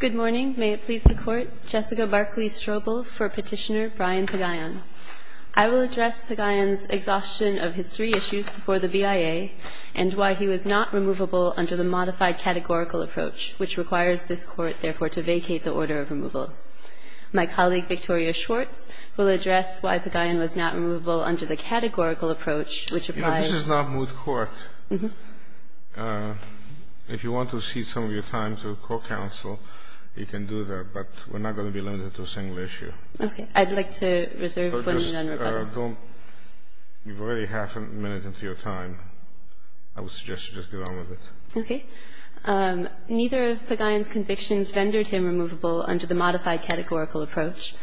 Good morning. May it please the court. Jessica Barclay Strobel for Petitioner Brian Pagayon. I will address Pagayon's exhaustion of his three issues before the BIA and why he was not removable under the modified categorical approach, which requires this court, therefore, to vacate the order of removal. My colleague, Victoria Schwartz, will address why Pagayon was not removable under the categorical approach, which applies. This is not moot court. If you want to cede some of your time to court counsel, you can do that, but we're not going to be limited to a single issue. Okay. I'd like to reserve one minute on rebuttal. You've already half a minute into your time. I would suggest you just get on with it. Okay. Neither of Pagayon's convictions rendered him removable under the modified categorical approach.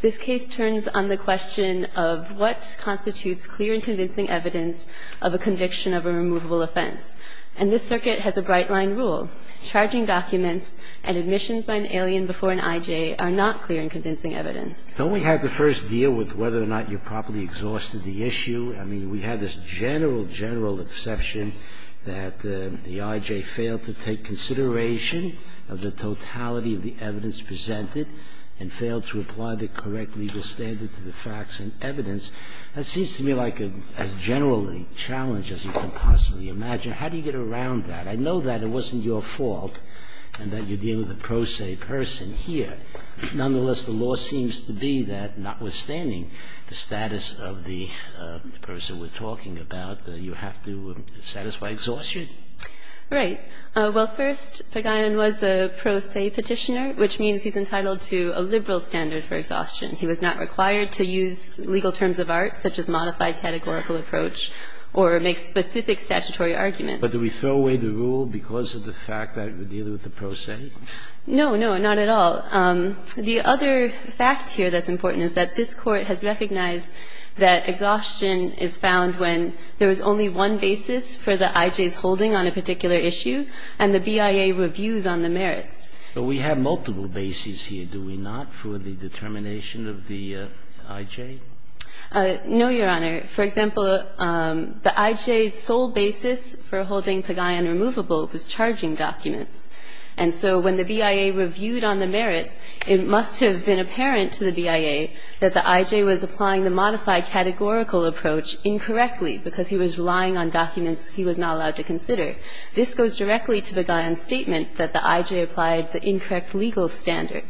This case turns on the question of what constitutes clear and removable offense, and this circuit has a bright-line rule. Charging documents and admissions by an alien before an IJ are not clear and convincing evidence. Don't we have to first deal with whether or not you properly exhausted the issue? I mean, we have this general, general exception that the IJ failed to take consideration of the totality of the evidence presented and failed to apply the correct legal standard to the facts and evidence. That seems to me like as general a challenge as you can possibly imagine. How do you get around that? I know that it wasn't your fault and that you're dealing with a pro se person here. Nonetheless, the law seems to be that, notwithstanding the status of the person we're talking about, that you have to satisfy exhaustion? Right. Well, first, Pagayon was a pro se Petitioner, which means he's entitled to a liberal standard for exhaustion. He was not required to use legal terms of art, such as modified categorical approach, or make specific statutory arguments. But do we throw away the rule because of the fact that we're dealing with a pro se? No, no, not at all. The other fact here that's important is that this Court has recognized that exhaustion is found when there is only one basis for the IJ's holding on a particular issue and the BIA reviews on the merits. But we have multiple bases here, do we not, for the determination? No, Your Honor. For example, the IJ's sole basis for holding Pagayon removable was charging documents. And so when the BIA reviewed on the merits, it must have been apparent to the BIA that the IJ was applying the modified categorical approach incorrectly because he was relying on documents he was not allowed to consider. This goes directly to Pagayon's statement that the IJ applied the incorrect legal standard.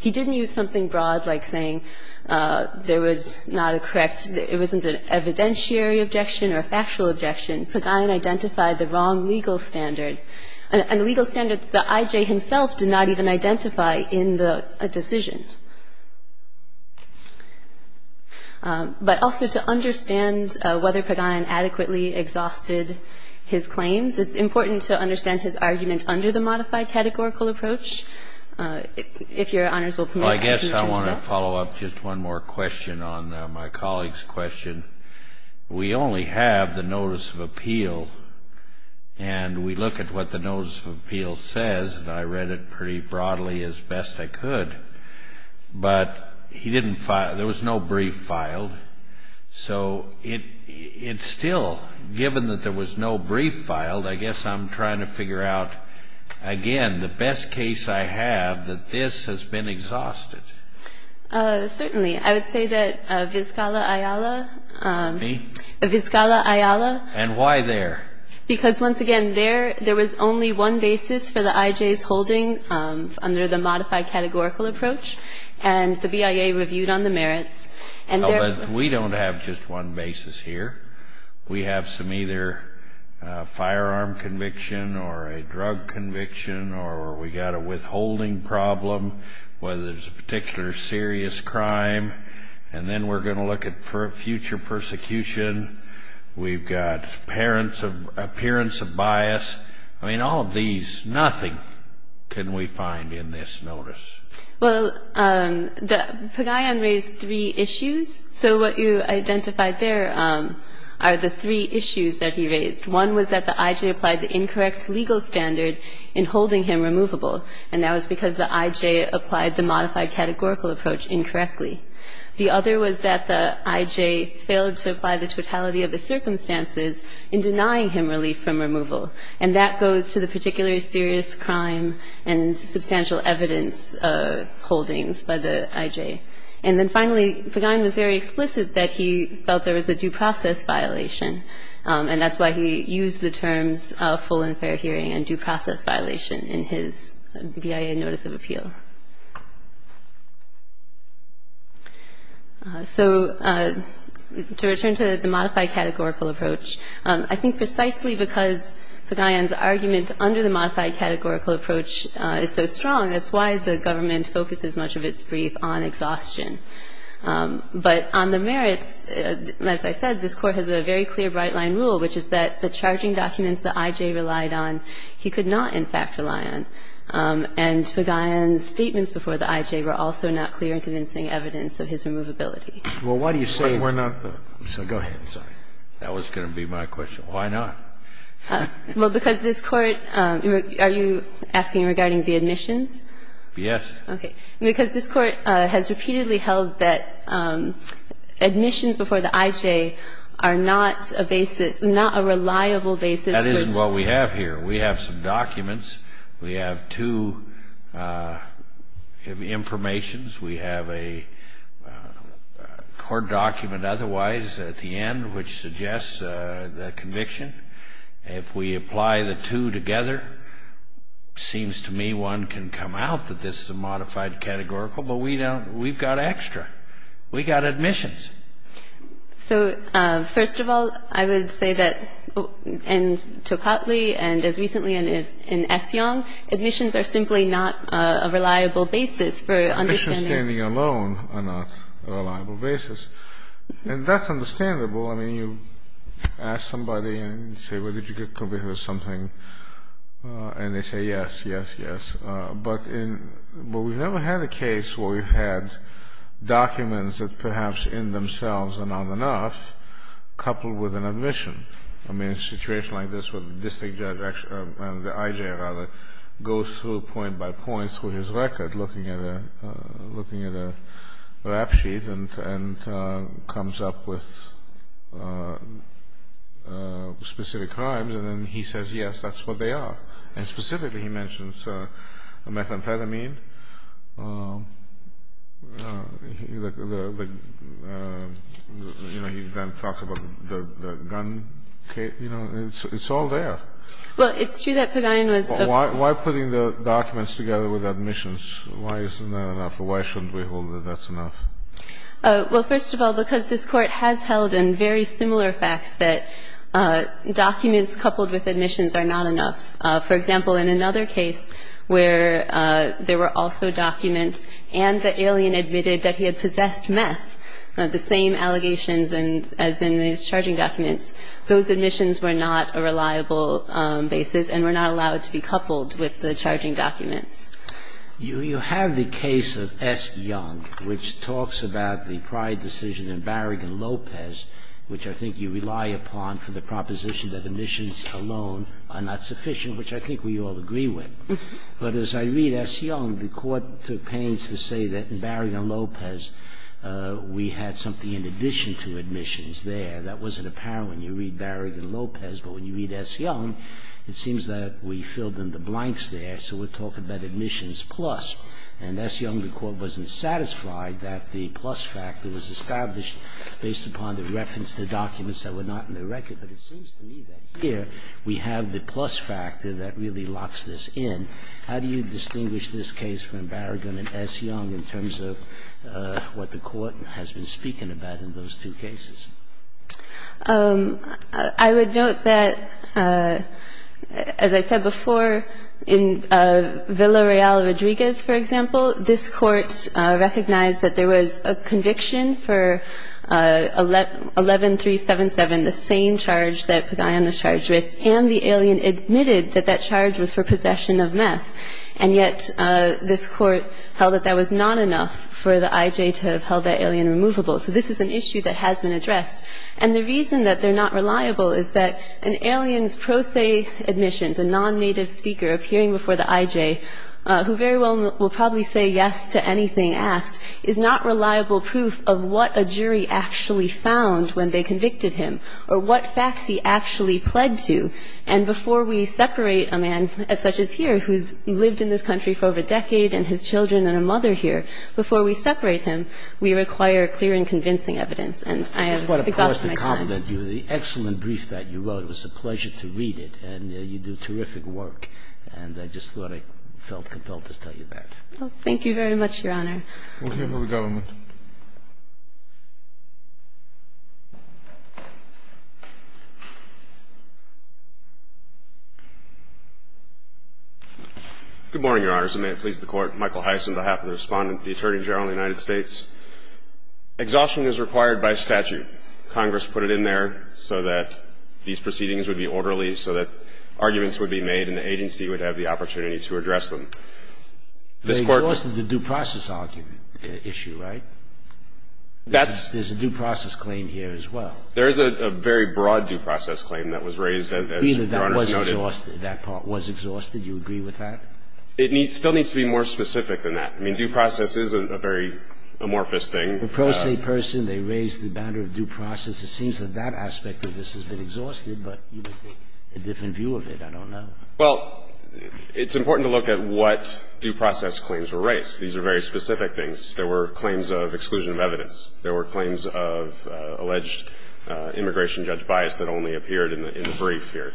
He didn't use something broad like saying there was not a correct – it wasn't an evidentiary objection or a factual objection. Pagayon identified the wrong legal standard. And the legal standard the IJ himself did not even identify in the decision. But also to understand whether Pagayon adequately exhausted his claims, it's important to understand his argument under the modified categorical approach. If Your Honor's will permit, I can introduce Bill. Well, I guess I want to follow up just one more question on my colleague's question. We only have the notice of appeal, and we look at what the notice of appeal says, and I read it pretty broadly as best I could. But he didn't – there was no brief filed. So it's still – given that there was no brief filed, I guess I'm trying to figure out, again, the best case I have that this has been exhausted. Certainly. I would say that Vizcala-Ayala – Me? Vizcala-Ayala – And why there? Because, once again, there was only one basis for the IJ's holding under the modified categorical approach, and the BIA reviewed on the merits, and there – Well, but we don't have just one basis here. We have some either firearm conviction or a drug conviction, or we got a withholding problem where there's a particular serious crime, and then we're going to look at future persecution. We've got parents of – appearance of bias. I mean, all of these – nothing can we find in this notice. Well, the – Pagayan raised three issues. So what you identified there are the three issues that he raised. One was that the IJ applied the incorrect legal standard in holding him removable, and that was because the IJ applied the modified categorical approach incorrectly. The other was that the IJ failed to apply the totality of the circumstances in denying him relief from removal, and that goes to the particular serious crime and substantial evidence holdings by the IJ. And then finally, Pagayan was very explicit that he felt there was a due process violation, and that's why he used the terms full and fair hearing and due process violation in his BIA notice of appeal. So to return to the modified categorical approach, I think precisely because Pagayan's argument under the modified categorical approach is so strong, that's why the government focuses much of its brief on exhaustion. But on the merits, as I said, this Court has a very clear bright-line rule, which is that the charging documents the IJ relied on, he could not, in fact, rely on. And Pagayan's statements before the IJ were also not clear and convincing evidence of his removability. Well, why do you say we're not – so go ahead, sorry. That was going to be my question. Why not? Well, because this Court – are you asking regarding the admissions? Yes. Okay. Because this Court has repeatedly held that admissions before the IJ are not a basis – not a reliable basis for – That isn't what we have here. We have some documents. We have two informations. We have a court document otherwise at the end, which suggests the conviction. If we apply the two together, it seems to me one can come out that this is a modified categorical, but we don't – we've got extra. We've got admissions. So first of all, I would say that in Tocatli and as recently in Essiong, admissions are simply not a reliable basis for understanding – Admissions standing alone are not a reliable basis. And that's understandable. I mean, you ask somebody and you say, well, did you get convicted of something? And they say yes, yes, yes. But in – well, we've never had a case where we've had documents that perhaps in themselves are not enough coupled with an admission. I mean, a situation like this where the district judge – the IJ, rather, goes through point by point, through his record, looking at a – looking at a rap sheet and comes up with specific crimes, and then he says, yes, that's what they are. And specifically, he mentions methamphetamine, the – you know, he then talks about the gun case. You know, it's all there. Well, it's true that Pagayan was – Why putting the documents together with admissions? Why isn't that enough? Why shouldn't we hold that that's enough? Well, first of all, because this Court has held in very similar facts that documents coupled with admissions are not enough. For example, in another case where there were also documents and the alien admitted that he had possessed meth, the same allegations as in his charging documents, those admissions were not a reliable basis and were not allowed to be coupled with the charging documents. You have the case of S. Young, which talks about the prior decision in Barragan-Lopez, which I think you rely upon for the proposition that admissions alone are not sufficient, which I think we all agree with. But as I read S. Young, the Court took pains to say that in Barragan-Lopez we had something in addition to admissions there. That wasn't apparent when you read Barragan-Lopez. But when you read S. Young, it seems that we filled in the blanks there, so we're talking about admissions plus. And S. Young, the Court wasn't satisfied that the plus factor was established based upon the reference to documents that were not in the record. But it seems to me that here we have the plus factor that really locks this in. How do you distinguish this case from Barragan and S. Young in terms of what the Court has been speaking about in those two cases? I would note that, as I said before, in Villa Real-Rodriguez, for example, this Court recognized that there was a conviction for 11377, the same charge that Padilla was charged with, and the alien admitted that that charge was for possession of meth. And yet this Court held that that was not enough for the I.J. to have held that alien removable. So this is an issue that has been addressed. And the reason that they're not reliable is that an alien's pro se admissions, a non-native speaker appearing before the I.J., who very well will probably say yes to anything asked, is not reliable proof of what a jury actually found when they convicted him or what facts he actually pled to. And before we separate a man such as here who's lived in this country for over a decade and his children and a mother here, before we separate him, we require clear and convincing evidence. And I have exhausted my time. What a poise to compliment you. The excellent brief that you wrote, it was a pleasure to read it. And you do terrific work. And I just thought I felt compelled to tell you that. Well, thank you very much, Your Honor. We'll hear from the government. Good morning, Your Honors. And may it please the Court, Michael Heiss on behalf of the Respondent, the Attorney Exhaustion is required by statute. Congress put it in there so that these proceedings would be orderly, so that arguments would be made and the agency would have the opportunity to address them. This Court They exhausted the due process argument issue, right? That's There's a due process claim here as well. There is a very broad due process claim that was raised, as Your Honor noted. That part was exhausted. Do you agree with that? It still needs to be more specific than that. I mean, due process is a very amorphous thing. The pro se person, they raised the matter of due process. It seems that that aspect of this has been exhausted, but you would get a different view of it. I don't know. Well, it's important to look at what due process claims were raised. These are very specific things. There were claims of exclusion of evidence. There were claims of alleged immigration judge bias that only appeared in the brief here.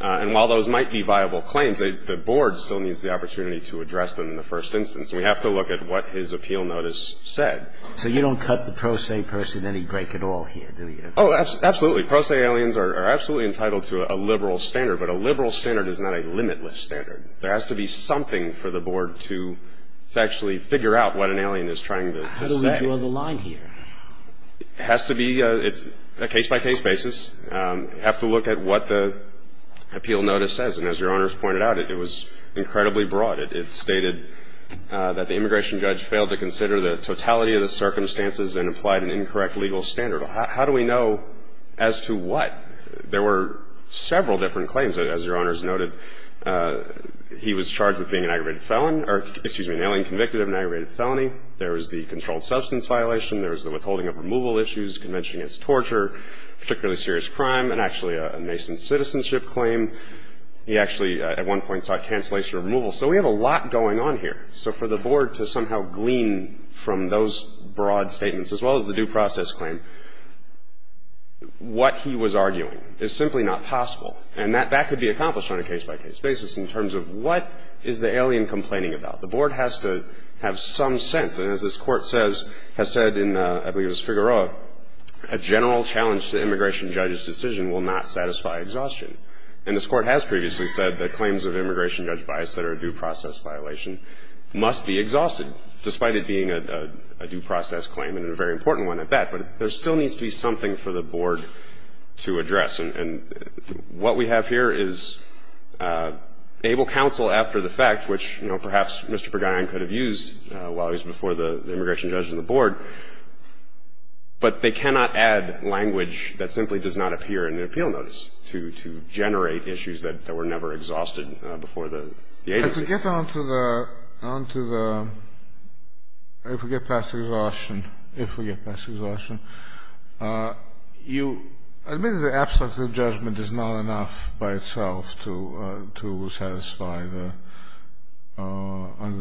And while those might be viable claims, the board still needs the opportunity to address them in the first instance. We have to look at what his appeal notice said. So you don't cut the pro se person any break at all here, do you? Oh, absolutely. Pro se aliens are absolutely entitled to a liberal standard, but a liberal standard is not a limitless standard. There has to be something for the board to actually figure out what an alien is trying to say. How do we draw the line here? It has to be a case-by-case basis. You have to look at what the appeal notice says. And as Your Honor has pointed out, it was incredibly broad. It stated that the immigration judge failed to consider the totality of the circumstances and applied an incorrect legal standard. How do we know as to what? There were several different claims, as Your Honor has noted. He was charged with being an aggravated felon or, excuse me, an alien convicted of an aggravated felony. There was the controlled substance violation. There was the withholding of removal issues, convention against torture, particularly serious crime, and actually a nascent citizenship claim. He actually at one point sought cancellation or removal. So we have a lot going on here. So for the board to somehow glean from those broad statements, as well as the due process claim, what he was arguing is simply not possible. And that could be accomplished on a case-by-case basis in terms of what is the alien complaining about. The board has to have some sense. And as this Court says, has said in, I believe it was Figueroa, a general challenge to immigration judge's decision will not satisfy exhaustion. And this Court has previously said that claims of immigration judge bias that are a due process violation must be exhausted, despite it being a due process claim and a very important one at that. But there still needs to be something for the board to address. And what we have here is able counsel after the fact, which, you know, perhaps Mr. Berguin could have used while he was before the immigration judge and the board, but they cannot add language that simply does not appear in the appeal notice to generate issues that were never exhausted before the agency. To get on to the, if we get past exhaustion, if we get past exhaustion, you admit that the abstract of judgment is not enough by itself to satisfy the, under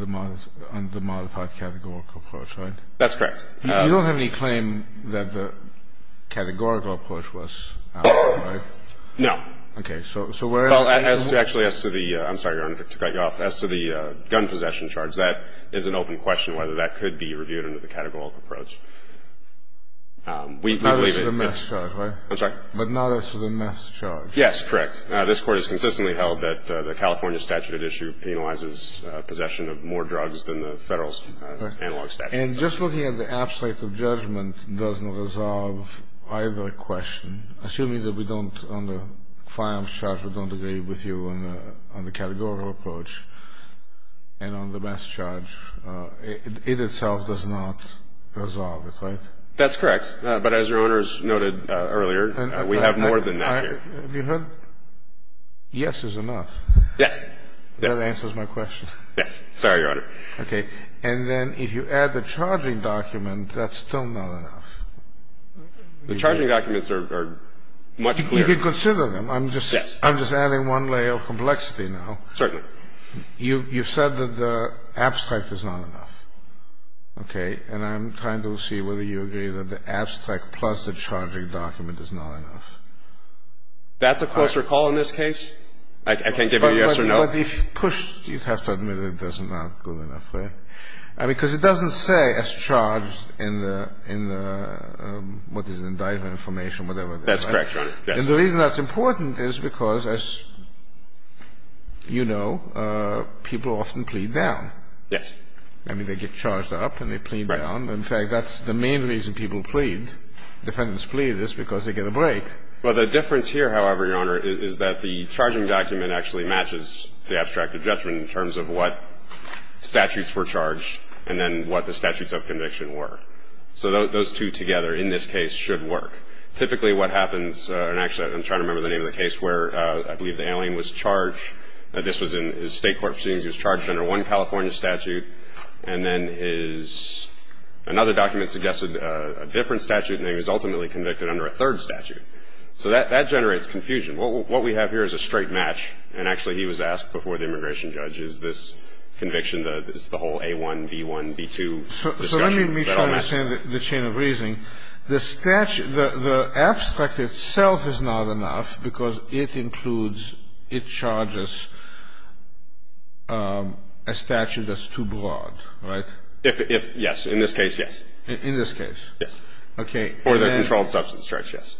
the modified categorical approach, right? That's correct. You don't have any claim that the categorical approach was adequate, right? No. Okay. So where are you? Well, actually, as to the, I'm sorry, Your Honor, to cut you off, as to the gun possession charge, that is an open question whether that could be reviewed under the categorical approach. We believe it's, I'm sorry. But not as to the mass charge. Yes, correct. This Court has consistently held that the California statute at issue penalizes possession of more drugs than the Federal analog statute. And just looking at the abstract of judgment doesn't resolve either question. Assuming that we don't, on the firearms charge, we don't agree with you on the categorical approach, and on the mass charge, it itself does not resolve it, right? That's correct. But as Your Honor has noted earlier, we have more than that here. Have you heard, yes is enough? Yes. That answers my question. Yes. Sorry, Your Honor. Okay. And then if you add the charging document, that's still not enough. The charging documents are much clearer. You can consider them. I'm just adding one layer of complexity now. Certainly. You've said that the abstract is not enough, okay? And I'm trying to see whether you agree that the abstract plus the charging document is not enough. That's a closer call in this case. I can't give you a yes or no. But if pushed, you'd have to admit it's not good enough, right? Because it doesn't say it's charged in the, what is it, indictment information, whatever. That's correct, Your Honor. And the reason that's important is because, as you know, people often plead down. Yes. I mean, they get charged up and they plead down. In fact, that's the main reason people plead, defendants plead, is because they get a break. Well, the difference here, however, Your Honor, is that the charging document actually matches the abstract of judgment in terms of what statutes were charged and then what the statutes of conviction were. So those two together, in this case, should work. Typically what happens, and actually I'm trying to remember the name of the case where I believe the alien was charged. This was in his state court proceedings. He was charged under one California statute. And then his, another document suggested a different statute, and he was ultimately convicted under a third statute. So that generates confusion. What we have here is a straight match, and actually he was asked before the immigration judge, is this conviction, it's the whole A1, B1, B2 discussion that all matches. So let me try to understand the chain of reasoning. The statute, the abstract itself is not enough because it includes, it charges a statute that's too broad, right? If, yes. In this case, yes. In this case? Yes. Okay. For the controlled substance charge, yes.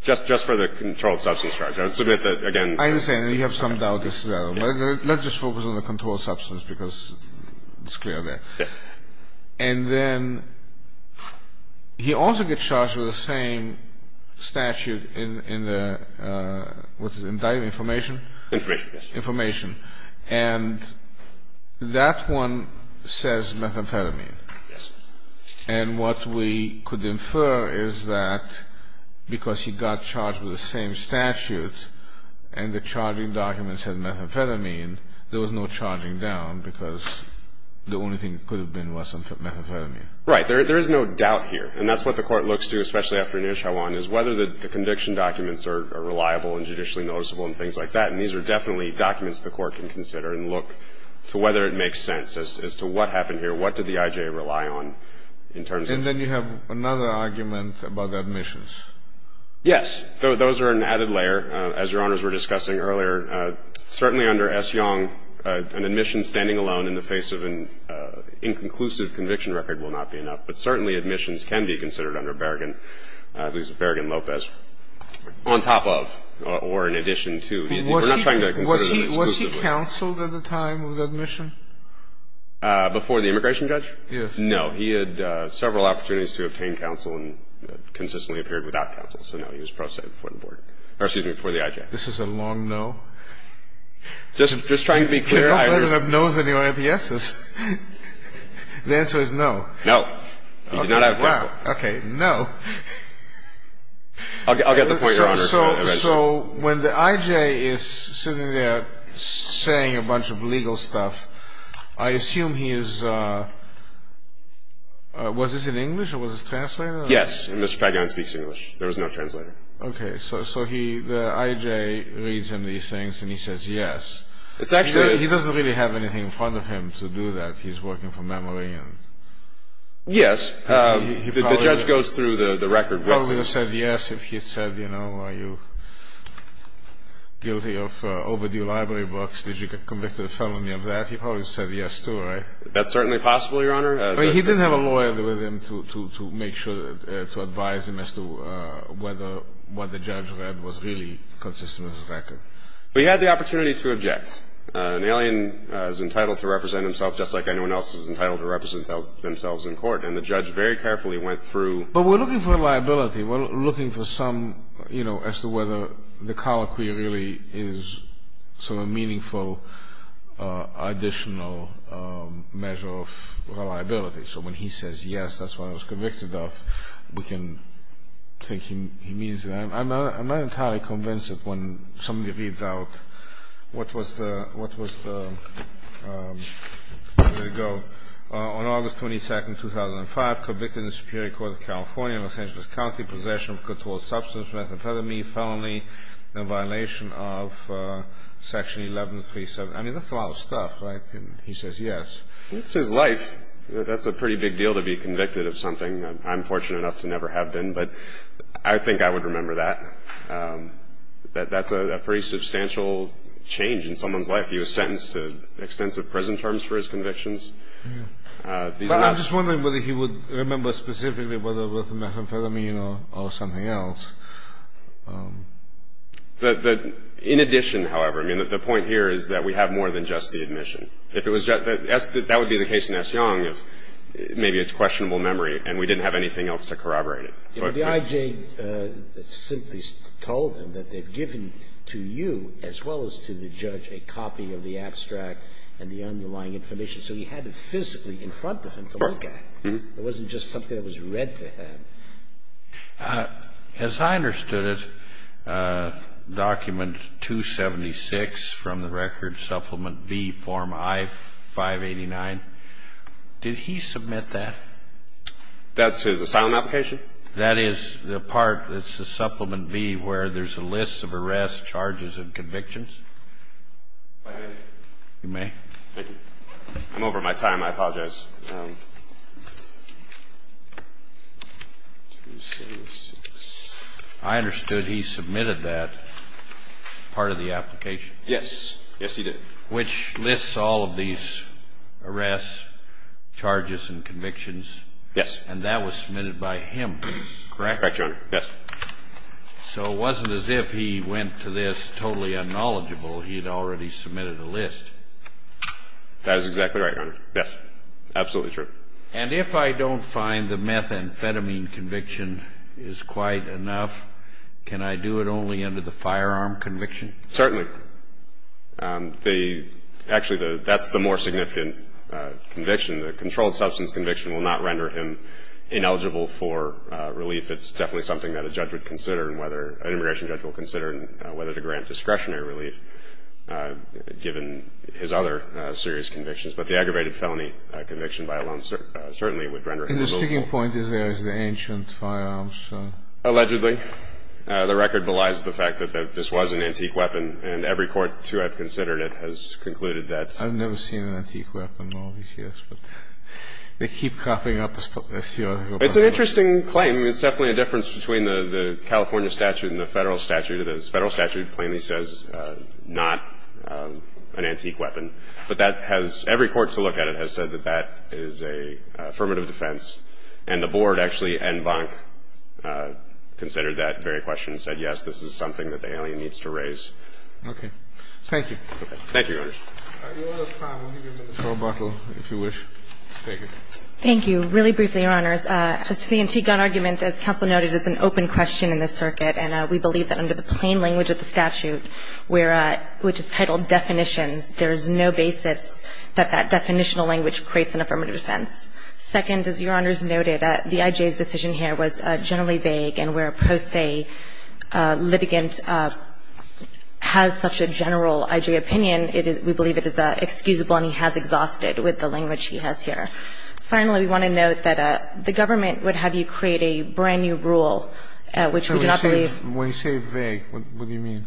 Just for the controlled substance charge. I submit that, again. I understand, and you have some doubt as to that. Let's just focus on the controlled substance because it's clear there. Yes. And then he also gets charged with the same statute in the, what's it, indictment, information? Information, yes. Information. And that one says methamphetamine. Yes. And what we could infer is that because he got charged with the same statute and the charging documents had methamphetamine, there was no charging down because the only thing that could have been was methamphetamine. Right. There is no doubt here. And that's what the court looks to, especially after Nishawan, is whether the conviction documents are reliable and judicially noticeable and things like that. And these are definitely documents the court can consider and look to whether it makes sense as to what happened here. What did the I.J. rely on in terms of. And then you have another argument about admissions. Yes. Those are an added layer. As Your Honors were discussing earlier, certainly under S. Young, an admission standing alone in the face of an inconclusive conviction record will not be enough. But certainly admissions can be considered under Berrigan, who's Berrigan Lopez, on top of or in addition to. We're not trying to consider them exclusively. Was he counseled at the time of the admission? Before the immigration judge? Yes. No. He had several opportunities to obtain counsel and consistently appeared without counsel. So no, he was pro se before the board. Or excuse me, before the I.J. This is a long no. Just trying to be clear. I don't let it up no's anyway at the yes's. The answer is no. No. He did not have counsel. OK. No. I'll get the point, Your Honor. So when the I.J. is sitting there saying a bunch of legal stuff, I assume he is, was this in English or was this translated? Yes. Mr. Pagan speaks English. There was no translator. OK. So the I.J. reads him these things and he says yes. It's actually. He doesn't really have anything in front of him to do that. He's working for memory. Yes. The judge goes through the record with him. He would have said yes if he had said, you know, are you guilty of overdue library books? Did you get convicted of felony of that? He probably said yes too, right? That's certainly possible, Your Honor. He didn't have a lawyer with him to make sure, to advise him as to whether what the judge read was really consistent with his record. But he had the opportunity to object. An alien is entitled to represent himself just like anyone else is entitled to represent themselves in court. And the judge very carefully went through. But we're looking for liability. We're looking for some, you know, as to whether the colloquy really is sort of a meaningful additional measure of reliability. So when he says yes, that's what I was convicted of, we can think he means that. I'm not entirely convinced that when somebody reads out what was the, what was the, on August 22nd, 2005, convicted in the Superior Court of California in possession of controlled substance, methamphetamine, felony in violation of Section 1137. I mean, that's a lot of stuff, right? And he says yes. That's his life. That's a pretty big deal to be convicted of something that I'm fortunate enough to never have been. But I think I would remember that. That's a pretty substantial change in someone's life. He was sentenced to extensive prison terms for his convictions. But I'm just wondering whether he would remember specifically whether it was methamphetamine or something else. The, in addition, however, I mean, the point here is that we have more than just the admission. If it was just, that would be the case in S. Young, if maybe it's questionable memory and we didn't have anything else to corroborate it. The IJ simply told him that they've given to you, as well as to the judge, a copy of the abstract and the underlying information. So he had it physically in front of him for that guy. It wasn't just something that was read to him. As I understood it, document 276 from the record, supplement B, form I-589. Did he submit that? That's his asylum application? That is the part, it's the supplement B, where there's a list of arrests, charges, and convictions. If I may? You may. Thank you. I'm over my time. I apologize. I understood he submitted that part of the application. Yes. Yes, he did. Which lists all of these arrests, charges, and convictions. Yes. And that was submitted by him, correct? Correct, Your Honor. Yes. So it wasn't as if he went to this totally unknowledgeable. He had already submitted a list. That is exactly right, Your Honor. Yes. Absolutely true. And if I don't find the methamphetamine conviction is quite enough, can I do it only under the firearm conviction? Certainly. Actually, that's the more significant conviction. The controlled substance conviction will not render him ineligible for relief. It's definitely something that an immigration judge will consider, whether to grant discretionary relief, given his other serious convictions. But the aggravated felony conviction by alone certainly would render him ineligible. And the sticking point is there is the ancient firearms. Allegedly. The record belies the fact that this was an antique weapon. And every court to have considered it has concluded that. I've never seen an antique weapon, obviously. But they keep cropping up. It's an interesting claim. It's definitely a difference between the California statute and the federal statute. The federal statute plainly says not an antique weapon. But that has – every court to look at it has said that that is an affirmative defense. And the Board actually and Bonk considered that very question and said, yes, this is something that the alien needs to raise. Okay. Thank you. Thank you, Your Honors. Your Honor, if I may, I'll give you a minute for rebuttal, if you wish. Thank you. Thank you. Really briefly, Your Honors, as to the antique gun argument, as counsel noted, it's an open question in this circuit. And we believe that under the plain language of the statute, which is titled Definitions, there is no basis that that definitional language creates an affirmative defense. Second, as Your Honors noted, the I.J.'s decision here was generally vague. And where a pro se litigant has such a general I.J. opinion, we believe it is excusable and he has exhausted with the language he has here. Finally, we want to note that the government would have you create a brand new rule, which we do not believe – When you say vague, what do you mean?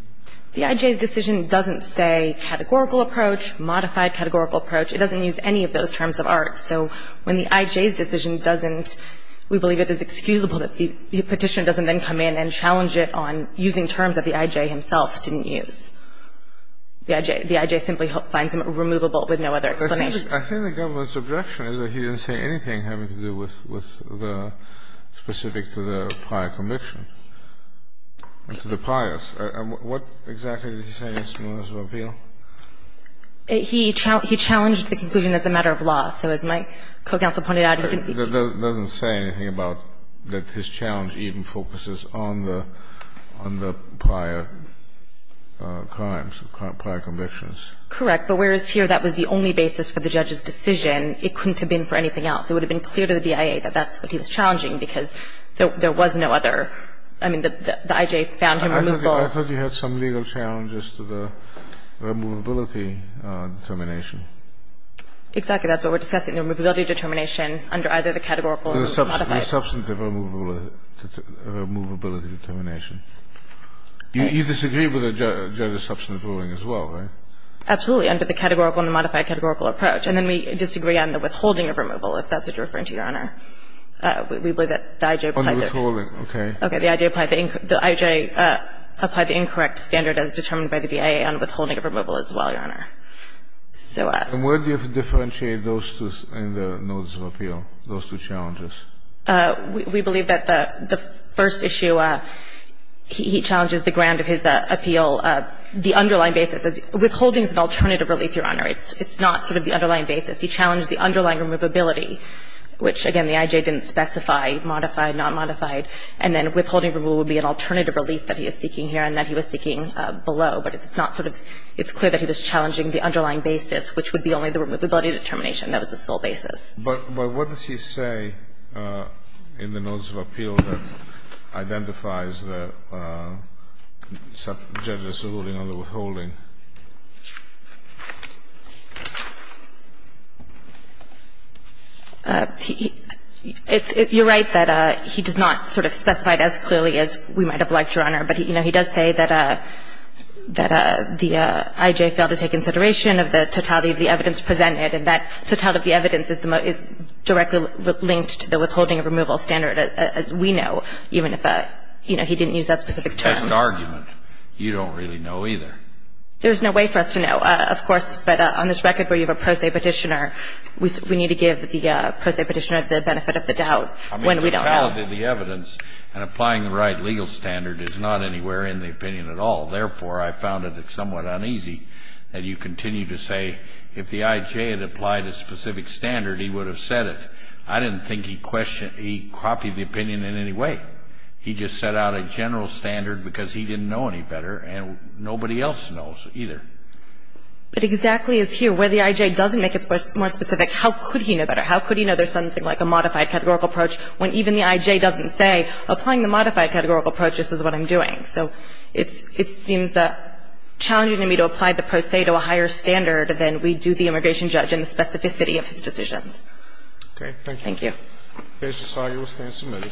The I.J.'s decision doesn't say categorical approach, modified categorical approach. It doesn't use any of those terms of art. So when the I.J.'s decision doesn't – we believe it is excusable that the petitioner doesn't then come in and challenge it on using terms that the I.J. himself didn't use. The I.J. simply finds them removable with no other explanation. I think the government's objection is that he didn't say anything having to do with the – specific to the prior conviction, to the priors. And what exactly did he say in his notice of appeal? He challenged the conclusion as a matter of law. So as my co-counsel pointed out, he didn't – It doesn't say anything about that his challenge even focuses on the prior crimes, prior convictions. Correct. But whereas here that was the only basis for the judge's decision, it couldn't have been for anything else. It would have been clear to the BIA that that's what he was challenging because there was no other – I mean, the I.J. found him removable. I thought you had some legal challenges to the removability determination. Exactly. That's what we're discussing, the removability determination under either the categorical or the modified. The substantive removability determination. You disagree with the judge's substantive ruling as well, right? Absolutely, under the categorical and the modified categorical approach. And then we disagree on the withholding of removal, if that's what you're referring to, Your Honor. We believe that the I.J. On the withholding, okay. The I.J. applied the incorrect standard as determined by the BIA on withholding of removal as well, Your Honor. And where do you differentiate those two in the notice of appeal, those two challenges? We believe that the first issue, he challenges the ground of his appeal, the underlying basis. Withholding is an alternative relief, Your Honor. It's not sort of the underlying basis. He challenged the underlying removability, which again, the I.J. didn't specify modified, not modified. And then withholding removal would be an alternative relief that he is seeking here and that he was seeking below. But it's not sort of – it's clear that he was challenging the underlying basis, which would be only the removability determination. That was the sole basis. But what does he say in the notice of appeal that identifies the judge's ruling on the withholding? You're right that he does not sort of specify it as clearly as we might have liked, Your Honor. But, you know, he does say that the I.J. failed to take into consideration of the totality of the evidence presented and that totality of the evidence is directly linked to the withholding of removal standard, as we know, even if, you know, he didn't use that specific term. That's an argument you don't really know either. There's no way for us to know, of course. But on this record where you have a pro se petitioner, we need to give the pro se petitioner the benefit of the doubt when we don't know. I mean, the totality of the evidence and applying the right legal standard is not anywhere in the opinion at all. Therefore, I found it somewhat uneasy that you continue to say if the I.J. had applied a specific standard, he would have said it. I didn't think he copied the opinion in any way. He just set out a general standard because he didn't know any better and nobody else knows either. But exactly as here, where the I.J. doesn't make it more specific, how could he know better? How could he know there's something like a modified categorical approach when even the I.J. doesn't say, applying the modified categorical approach, this is what I'm doing? So it's seems challenging to me to apply the pro se to a higher standard than we do the immigration judge and the specificity of his decisions. Okay. Thank you. Okay. This is how you stand submitted.